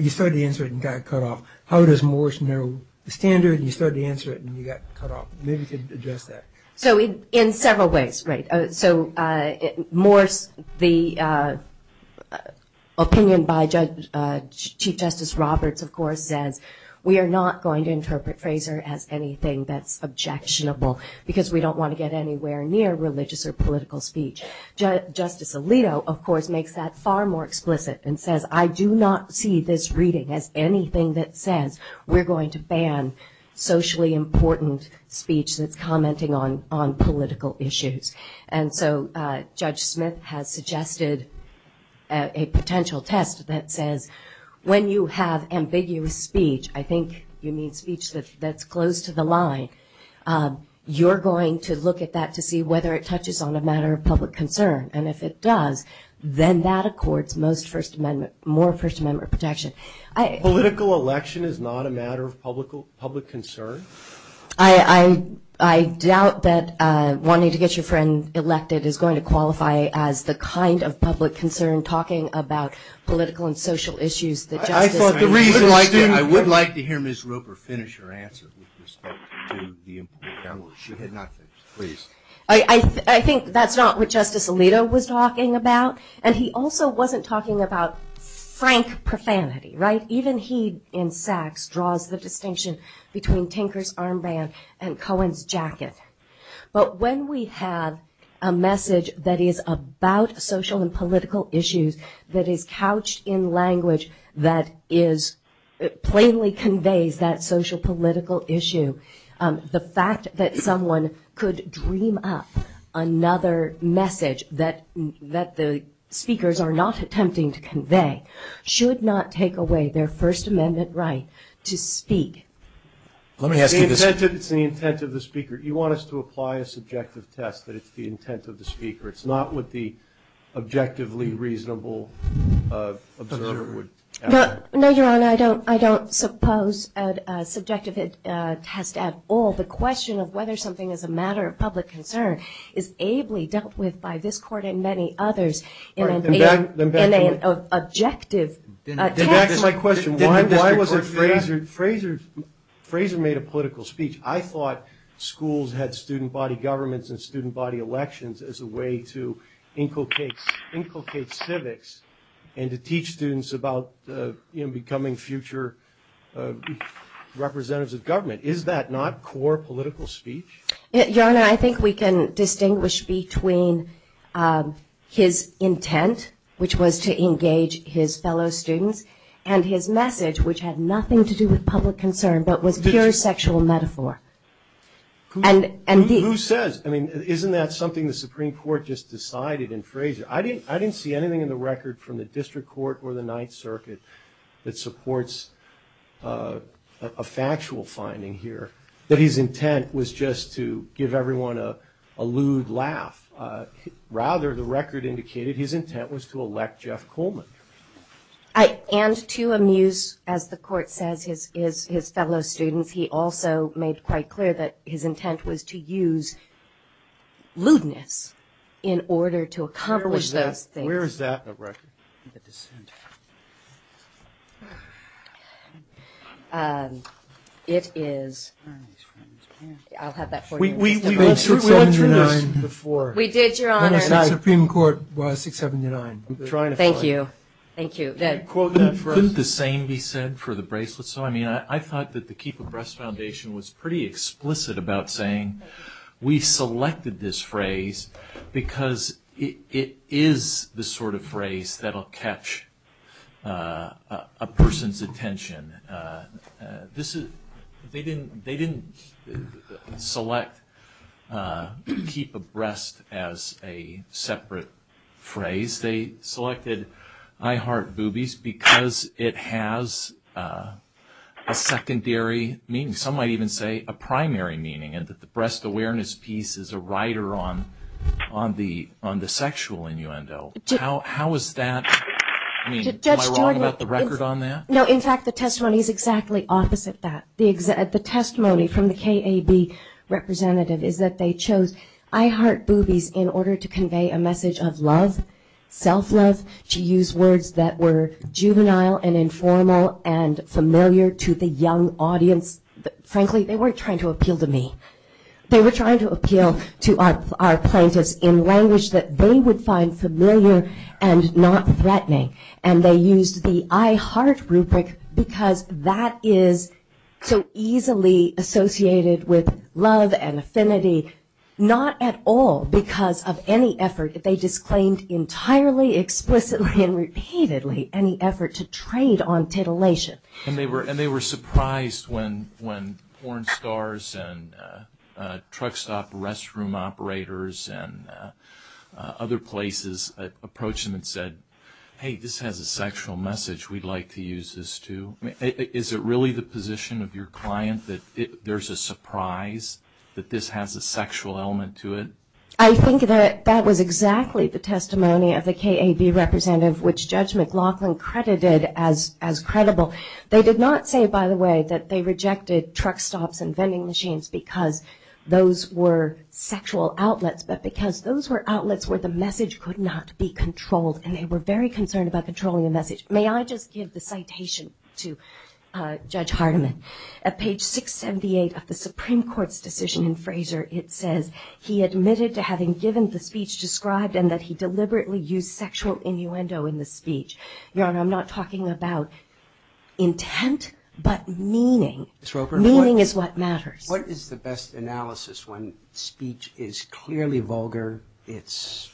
you started to answer it and got cut off. How does Morse narrow the standard? And you started to answer it and you got cut off. Maybe you could address that. So in several ways, right. So Morse, the opinion by Chief Justice Roberts, of course, says we are not going to interpret Fraser as anything that's objectionable because we don't want to get anywhere near religious or political speech. Justice Alito, of course, makes that far more explicit and says, I do not see this reading as anything that says we're going to ban socially important speech that's commenting on political issues. And so Judge Smith has suggested a potential test that says, when you have ambiguous speech, I think you mean speech that's close to the line, you're going to look at that to see whether it touches on a matter of public concern. And if it does, then that accords most First Amendment, more First Amendment protection. Political election is not a matter of public concern. I doubt that wanting to get your friend elected is going to qualify as the kind of public concern talking about political and social issues. I would like to hear Ms. Roper finish her answer. I think that's not what Justice Alito was talking about. And he also wasn't talking about frank profanity, right? Even he, in Sachs, draws the distinction between Tinker's armband and Cohen's jacket. But when we have a message that is about social and political issues that is the fact that someone could dream up another message that the speakers are not attempting to convey should not take away their First Amendment right to speak. Let me ask you this. It's the intent of the speaker. You want us to apply a subjective test that it's the intent of the speaker. It's not what the objectively reasonable observer would have. No, Your Honor, I don't suppose a subjective test at all. The question of whether something is a matter of public concern is ably dealt with by this Court and many others in an objective test. Back to my question. Why was it Fraser made a political speech? I thought schools had student body governments and student body elections as a way to inculcate civics and to teach students about becoming future representatives of government. Is that not core political speech? Your Honor, I think we can distinguish between his intent, which was to engage his fellow students, and his message, which had nothing to do with public concern, but was pure sexual metaphor. Who says? I mean, isn't that something the Supreme Court just decided in Fraser? I didn't see anything in the record from the District Court or the Ninth Circuit that supports a factual finding here, that his intent was just to give everyone a lewd laugh. Rather, the record indicated his intent was to elect Jeff Coleman. And to amuse, as the Court says, his fellow students. He also made quite clear that his intent was to use lewdness in order to accomplish those things. Where is that in the record? It is. I'll have that for you. We did, Your Honor. The Supreme Court was 679. Thank you. Thank you. Could the same be said for the bracelets? I mean, I thought that the Keep a Breast Foundation was pretty explicit about saying we selected this phrase because it is the sort of phrase that will catch a person's attention. They didn't select keep a breast as a separate phrase. They selected I heart boobies because it has a secondary meaning. Some might even say a primary meaning, and that the breast awareness piece is a rider on the sexual innuendo. How is that? I mean, am I wrong about the record on that? No, in fact, the testimony is exactly opposite that. The testimony from the KAB representative is that they chose I heart boobies in order to convey a message of love, self-love, to use words that were juvenile and informal and familiar to the young audience. Frankly, they weren't trying to appeal to me. They were trying to appeal to our plaintiffs in language that they would find familiar and not threatening, and they used the I heart rubric because that is so easily associated with love and affinity, not at all because of any effort. They disclaimed entirely, explicitly, and repeatedly any effort to trade on titillation. And they were surprised when porn stars and truck stop restroom operators and other places approached them and said, hey, this has a sexual message we'd like to use this to. Is it really the position of your client that there's a surprise, that this has a sexual element to it? I think that that was exactly the testimony of the KAB representative, which Judge McLaughlin credited as credible. They did not say, by the way, that they rejected truck stops and vending machines because those were sexual outlets, but because those were outlets where the message could not be controlled, and they were very concerned about controlling the message. May I just give the citation to Judge Hardiman? At page 678 of the Supreme Court's decision in Fraser, it says he admitted to having given the speech described and that he deliberately used sexual innuendo in the speech. Your Honor, I'm not talking about intent, but meaning. Meaning is what matters. What is the best analysis when speech is clearly vulgar, it's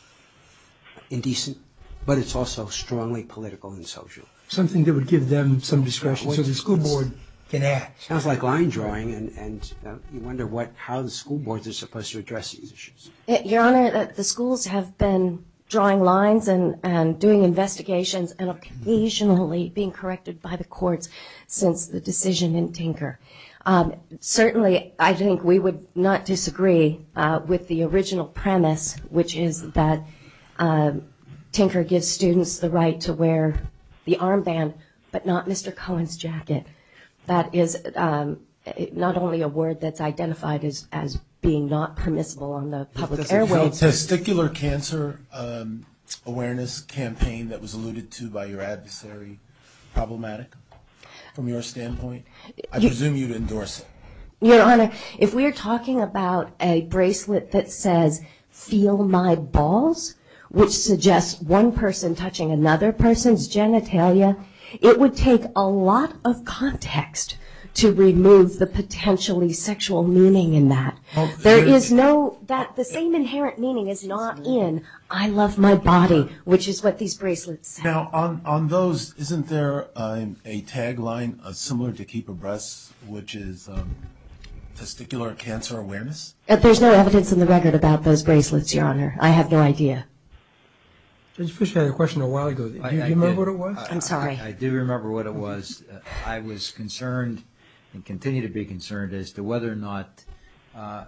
indecent, but it's also strongly political and social? Something that would give them some discretion so the school board can act. Sounds like line drawing, and you wonder how the school boards are supposed to address these issues. Your Honor, the schools have been drawing lines and doing investigations and occasionally being corrected by the courts since the decision in Tinker. Certainly, I think we would not disagree with the original premise, which is that Tinker gives students the right to wear the armband, but not Mr. Cohen's jacket. That is not only a word that's identified as being not permissible on the public airwaves. The testicular cancer awareness campaign that was alluded to by your adversary, problematic from your standpoint? I presume you'd endorse it. Your Honor, if we're talking about a bracelet that says, feel my balls, which suggests one person touching another person's genitalia, it would take a lot of context to remove the potentially sexual meaning in that. The same inherent meaning is not in I love my body, which is what these bracelets say. Now, on those, isn't there a tagline similar to keep abreast, which is testicular cancer awareness? There's no evidence in the record about those bracelets, Your Honor. I have no idea. Judge Fischer, I had a question a while ago. Do you remember what it was? I'm sorry. I do remember what it was. I was concerned and continue to be concerned as to whether or not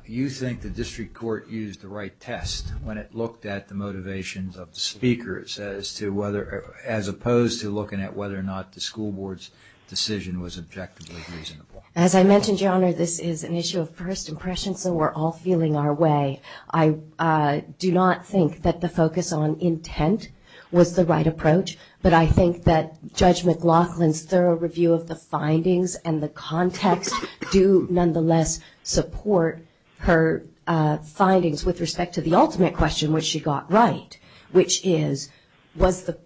you think the district court used the right test when it looked at the motivations of the speakers as opposed to looking at whether or not the school board's decision was objectively reasonable. As I mentioned, Your Honor, this is an issue of first impression, so we're all feeling our way. I do not think that the focus on intent was the right approach, but I think that Judge McLaughlin's thorough review of the findings and the context do nonetheless support her findings with respect to the ultimate question, which she got right, which is, was the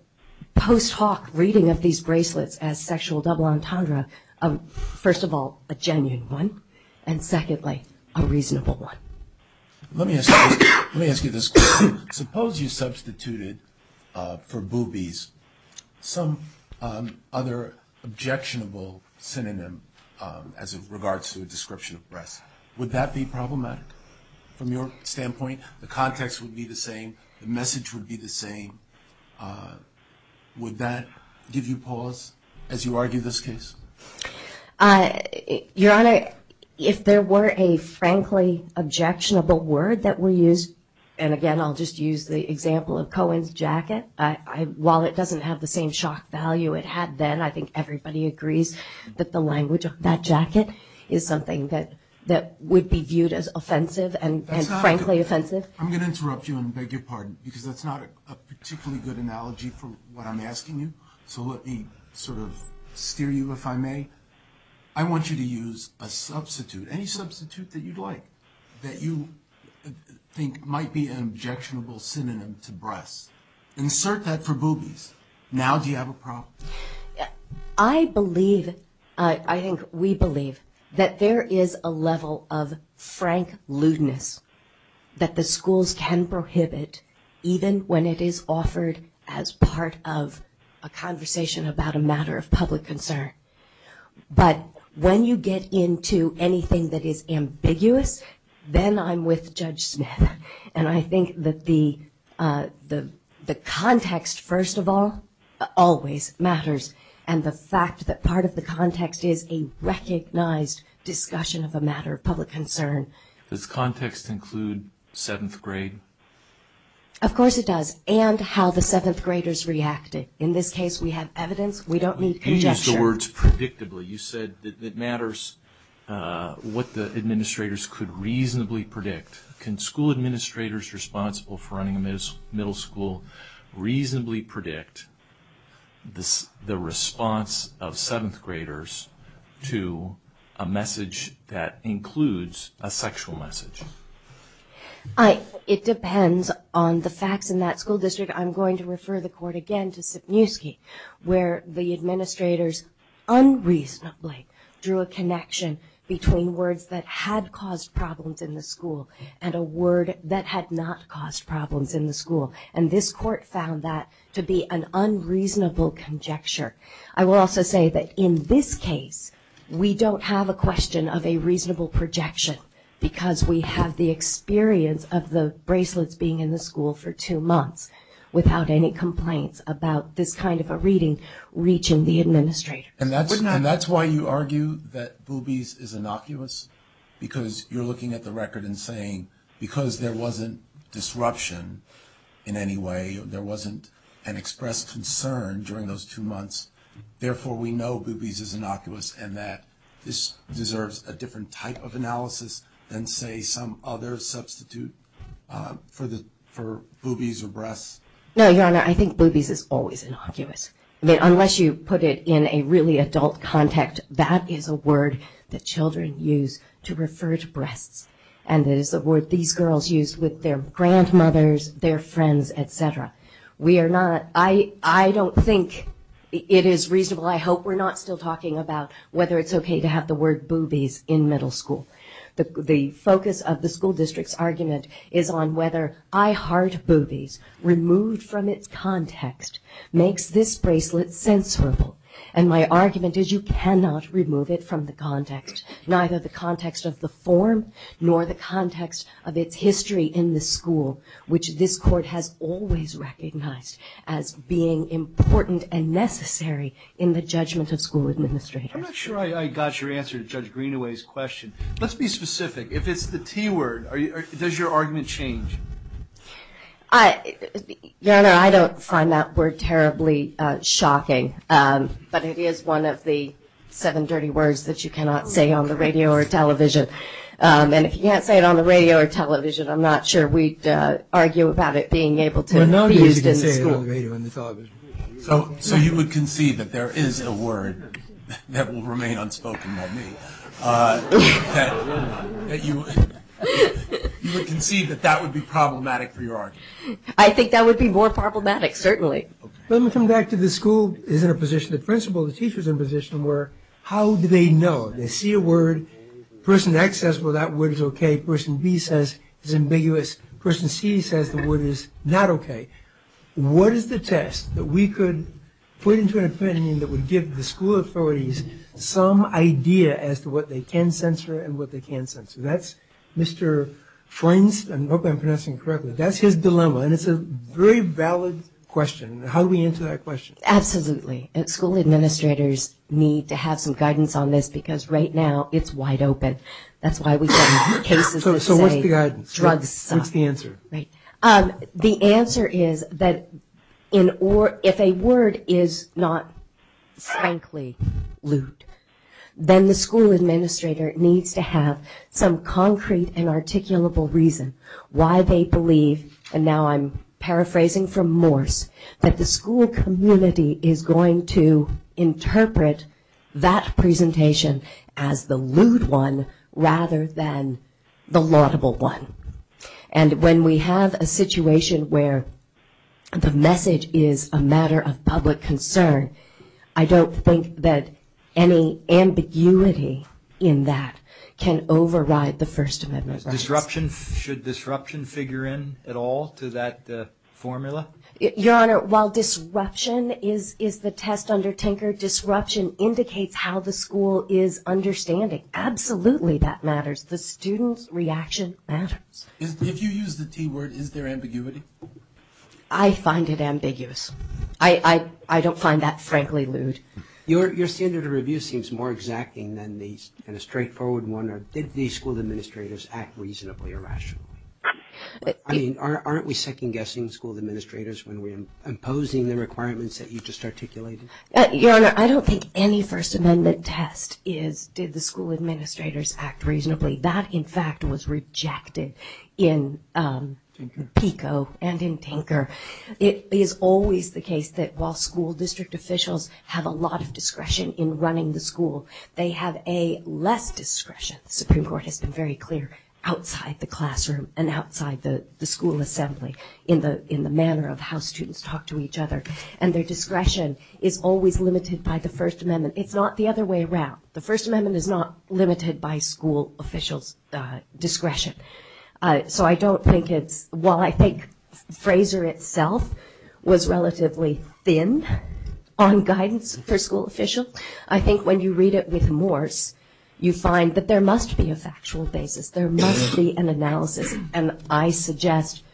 post hoc reading of these bracelets as sexual double entendre, first of all, a genuine one, and secondly, a reasonable one. Let me ask you this question. Suppose you substituted for boobies some other objectionable synonym as it regards to a description of breasts. Would that be problematic from your standpoint? The context would be the same. The message would be the same. Would that give you pause as you argue this case? Your Honor, if there were a frankly objectionable word that were used, and again, I'll just use the example of Cohen's jacket, while it doesn't have the same shock value it had then, I think everybody agrees that the language of that jacket is something that would be viewed as offensive and frankly offensive. I'm going to interrupt you and beg your pardon, because that's not a particularly good analogy for what I'm asking you, so let me sort of steer you, if I may. I want you to use a substitute, any substitute that you'd like, that you think might be an objectionable synonym to breasts. Insert that for boobies. Now do you have a problem? I believe, I think we believe, that there is a level of frank lewdness that the schools can prohibit, even when it is offered as part of a conversation about a matter of public concern. But when you get into anything that is ambiguous, then I'm with Judge Smith. And I think that the context, first of all, always matters, and the fact that part of the context is a recognized discussion of a matter of public concern. Does context include seventh grade? Of course it does, and how the seventh graders reacted. In this case, we have evidence. We don't need conjecture. You used the words predictably. You said that it matters what the administrators could reasonably predict. Can school administrators responsible for running a middle school reasonably predict the response of seventh graders to a message that includes a sexual message? It depends on the facts in that school district. I'm going to refer the Court again to Sipniewski, where the administrators unreasonably drew a connection between words that had caused problems in the school and a word that had not caused problems in the school. And this Court found that to be an unreasonable conjecture. I will also say that in this case, we don't have a question of a reasonable projection, because we have the experience of the bracelets being in the school for two months without any complaints about this kind of a reading reaching the administrator. And that's why you argue that boobies is innocuous, because you're looking at the record and saying because there wasn't disruption in any way, there wasn't an expressed concern during those two months, therefore we know boobies is innocuous and that this deserves a different type of analysis than, say, some other substitute for boobies or breasts. No, Your Honor, I think boobies is always innocuous. Unless you put it in a really adult context, that is a word that children use to refer to breasts, and it is a word these girls use with their grandmothers, their friends, et cetera. We are not – I don't think it is reasonable. I hope we're not still talking about whether it's okay to have the word boobies in middle school. The focus of the school district's argument is on whether I heart boobies removed from its context makes this bracelet censorable. And my argument is you cannot remove it from the context, neither the context of the form nor the context of its history in the school, which this Court has always recognized as being important and necessary in the judgment of school administrators. I'm not sure I got your answer to Judge Greenaway's question. Let's be specific. If it's the T word, does your argument change? Your Honor, I don't find that word terribly shocking, but it is one of the seven dirty words that you cannot say on the radio or television. And if you can't say it on the radio or television, I'm not sure we'd argue about it being able to be used in the school. So you would concede that there is a word that will remain unspoken by me? You would concede that that would be problematic for your argument? I think that would be more problematic, certainly. Let me come back to the school is in a position, the principal, the teacher is in a position where how do they know? They see a word. Person X says, well, that word is okay. Person B says it's ambiguous. Person C says the word is not okay. What is the test that we could put into an opinion that would give the school authorities some idea as to what they can censor and what they can't censor? That's Mr. Freund's, I hope I'm pronouncing it correctly, that's his dilemma, and it's a very valid question. How do we answer that question? Absolutely. And school administrators need to have some guidance on this because right now it's wide open. That's why we get cases that say drugs suck. What's the answer? The answer is that if a word is not frankly lewd, then the school administrator needs to have some concrete and articulable reason why they believe, and now I'm paraphrasing from Morse, that the school community is going to interpret that presentation as the lewd one rather than the laudable one. And when we have a situation where the message is a matter of public concern, I don't think that any ambiguity in that can override the First Amendment rights. Should disruption figure in at all to that formula? Your Honor, while disruption is the test under tinker, disruption indicates how the school is understanding. Absolutely that matters. The student's reaction matters. If you use the T word, is there ambiguity? I find it ambiguous. I don't find that frankly lewd. Your standard of review seems more exacting than a straightforward one. Did the school administrators act reasonably or rationally? Aren't we second-guessing school administrators when we're imposing the requirements that you just articulated? Your Honor, I don't think any First Amendment test is did the school administrators act reasonably. That, in fact, was rejected in PICO and in tinker. It is always the case that while school district officials have a lot of discretion in running the school, they have a less discretion, the Supreme Court has been very clear, outside the classroom and outside the school assembly in the manner of how students talk to each other. And their discretion is always limited by the First Amendment. It's not the other way around. So I don't think it's, while I think Fraser itself was relatively thin on guidance for school officials, I think when you read it with Morse, you find that there must be a factual basis. There must be an analysis. And I suggest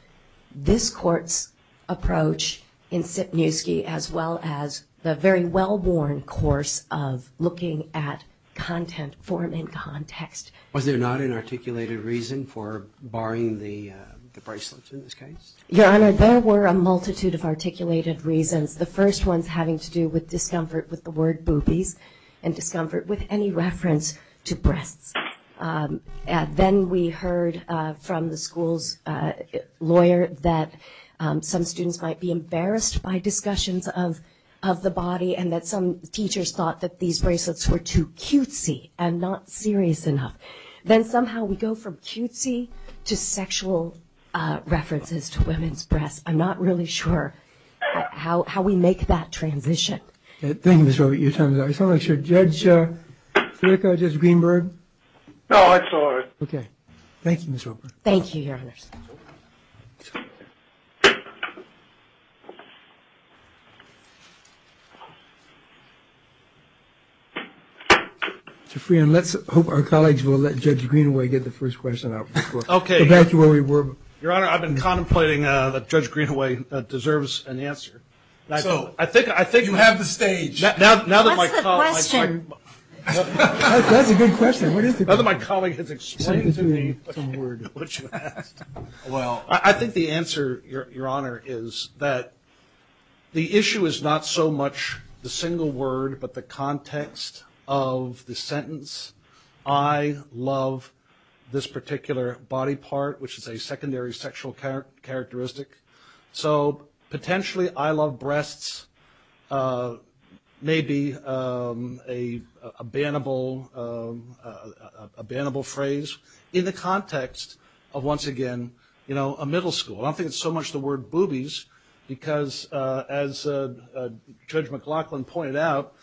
this Court's approach in Sipniewski, as well as the very well-worn course of looking at content, form, and context. Was there not an articulated reason for barring the bracelets in this case? Your Honor, there were a multitude of articulated reasons. The first one's having to do with discomfort with the word boobies and discomfort with any reference to breasts. Then we heard from the school's lawyer that some students might be embarrassed by discussions of the body and that some teachers thought that these bracelets were too cutesy and not serious enough. Then somehow we go from cutesy to sexual references to women's breasts. I'm not really sure how we make that transition. Thank you, Ms. Robert. Your time is up. Judge Flicka, Judge Greenberg? No, that's all right. Okay. Thank you, Ms. Robert. Thank you, Your Honor. Mr. Freon, let's hope our colleagues will let Judge Greenaway get the first question out before we go back to where we were. Your Honor, I've been contemplating that Judge Greenaway deserves an answer. So you have the stage. What's the question? That's a good question. Now that my colleague has explained to me what you asked. Well, I think the answer, Your Honor, is that the issue is not so much the single word but the context of the sentence. I love this particular body part, which is a secondary sexual characteristic. So potentially I love breasts may be a bannable phrase in the context of, once again, a middle school. I don't think it's so much the word boobies because, as Judge McLaughlin pointed out,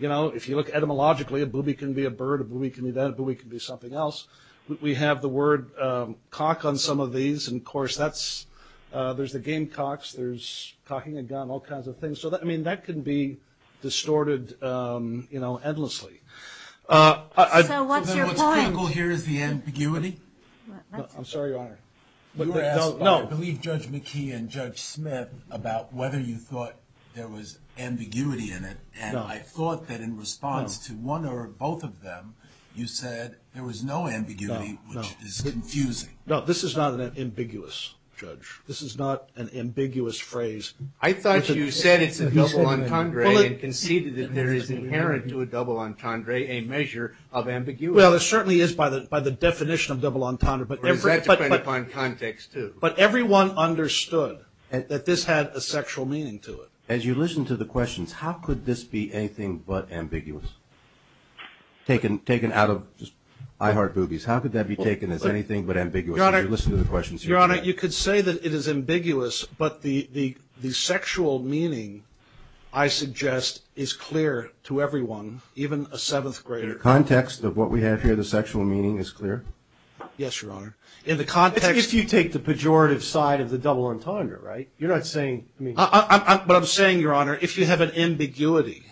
if you look etymologically, a boobie can be a bird, a boobie can be that, a boobie can be something else. We have the word cock on some of these. And, of course, there's the game cocks, there's cocking a gun, all kinds of things. So, I mean, that can be distorted endlessly. So what's your point? What's critical here is the ambiguity. I'm sorry, Your Honor. You were asking, I believe, Judge McKee and Judge Smith about whether you thought there was ambiguity in it. And I thought that in response to one or both of them, you said there was no ambiguity, which is confusing. No, this is not an ambiguous, Judge. This is not an ambiguous phrase. I thought you said it's a double entendre and conceded that there is inherent to a double entendre a measure of ambiguity. Well, it certainly is by the definition of double entendre. But that depends upon context, too. But everyone understood that this had a sexual meaning to it. As you listen to the questions, how could this be anything but ambiguous? Taken out of just I heart boobies, how could that be taken as anything but ambiguous? Your Honor, you could say that it is ambiguous, but the sexual meaning, I suggest, is clear to everyone, even a seventh grader. In the context of what we have here, the sexual meaning is clear? Yes, Your Honor. If you take the pejorative side of the double entendre, right? You're not saying... But I'm saying, Your Honor, if you have an ambiguity,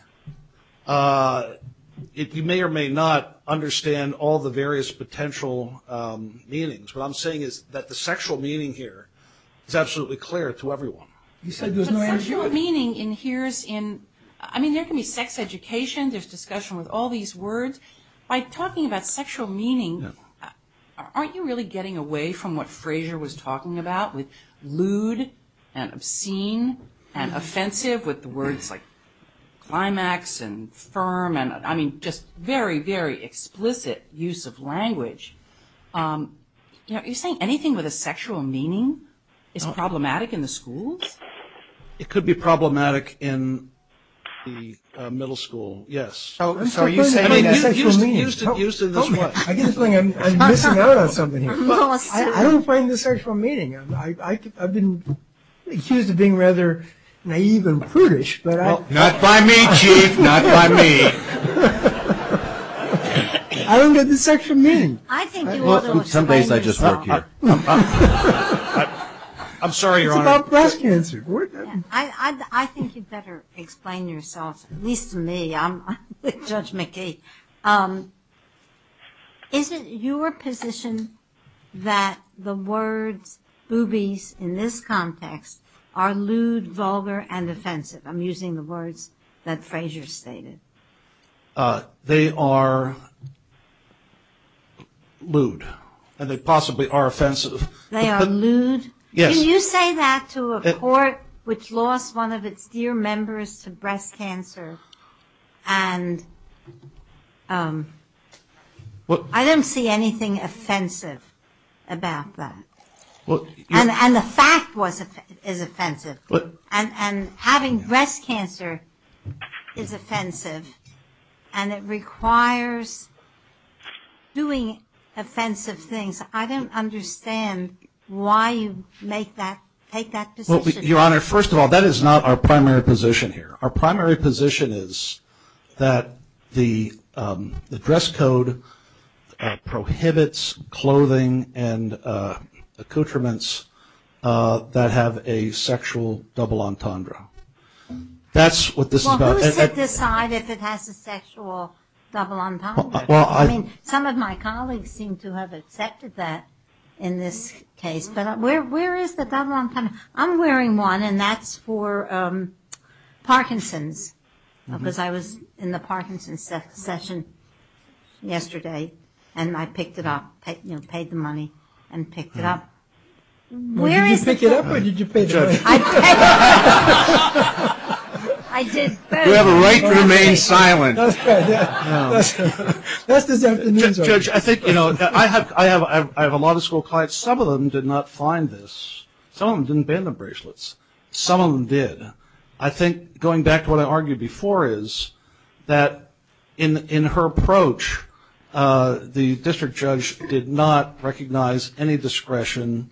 you may or may not understand all the various potential meanings. What I'm saying is that the sexual meaning here is absolutely clear to everyone. You said there's no ambiguity. The sexual meaning in here is in... I mean, there can be sex education, there's discussion with all these words. By talking about sexual meaning, aren't you really getting away from what Frazier was talking about with lewd and obscene and offensive with the words like climax and firm? I mean, just very, very explicit use of language. You know, are you saying anything with a sexual meaning is problematic in the schools? It could be problematic in the middle school, yes. So are you saying... I mean, used to this one. I get the feeling I'm missing out on something here. I don't find the sexual meaning. I've been accused of being rather naive and prudish, but I... Not by me, Chief, not by me. I don't get the sexual meaning. I think you ought to explain yourself. Some days I just work here. I'm sorry, Your Honor. It's about breast cancer. I think you'd better explain yourself, at least to me. I'm Judge McKee. Is it your position that the words boobies in this context are lewd, vulgar, and offensive? I'm using the words that Frazier stated. They are lewd, and they possibly are offensive. They are lewd? Yes. Would you say that to a court which lost one of its dear members to breast cancer? I don't see anything offensive about that. And the fact is offensive. Having breast cancer is offensive, and it requires doing offensive things. I don't understand why you make that, take that position. Your Honor, first of all, that is not our primary position here. Our primary position is that the dress code prohibits clothing and accoutrements that have a sexual double entendre. That's what this is about. Well, who's to decide if it has a sexual double entendre? Some of my colleagues seem to have accepted that in this case, but where is the double entendre? I'm wearing one, and that's for Parkinson's, because I was in the Parkinson's session yesterday, and I picked it up, you know, paid the money and picked it up. Did you pick it up, or did you pay the money? You have a right to remain silent. That's good. Judge, I think, you know, I have a lot of school clients. Some of them did not find this. Some of them didn't ban the bracelets. Some of them did. I think going back to what I argued before is that in her approach, the district judge did not recognize any discretion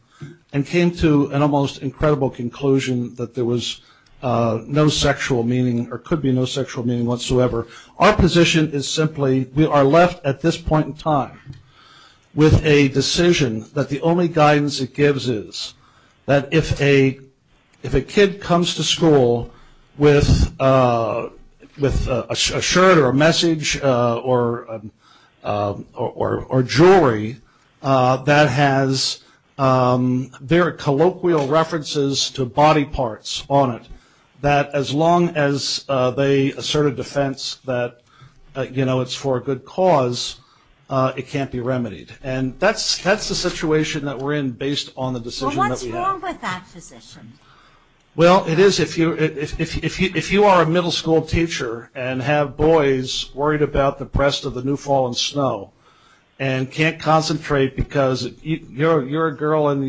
and came to an almost incredible conclusion that there was no sexual meaning or could be no sexual meaning whatsoever. Our position is simply we are left at this point in time with a decision that the only guidance it gives is that if a kid comes to school with a shirt or a message or jewelry that has very colloquial references to body parts on it, that as long as they assert a defense that, you know, it's for a good cause, it can't be remedied. And that's the situation that we're in based on the decision that we have. Well, what's wrong with that position? Well, it is if you are a middle school teacher and have boys worried about the rest of the new fallen snow and can't concentrate because you're a girl and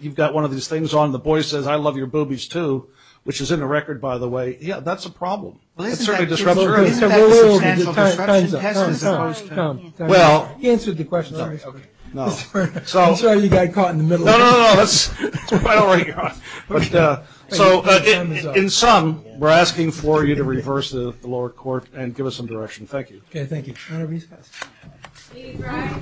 you've got one of these things on, the boy says, I love your boobies, too, which is in the record, by the way. Yeah, that's a problem. It's certainly disruptive. Time's up. He answered the question. I'm sorry you got caught in the middle. No, no, no. I don't want to get caught. So in sum, we're asking for you to reverse the lower court and give us some direction. Thank you. Thank you.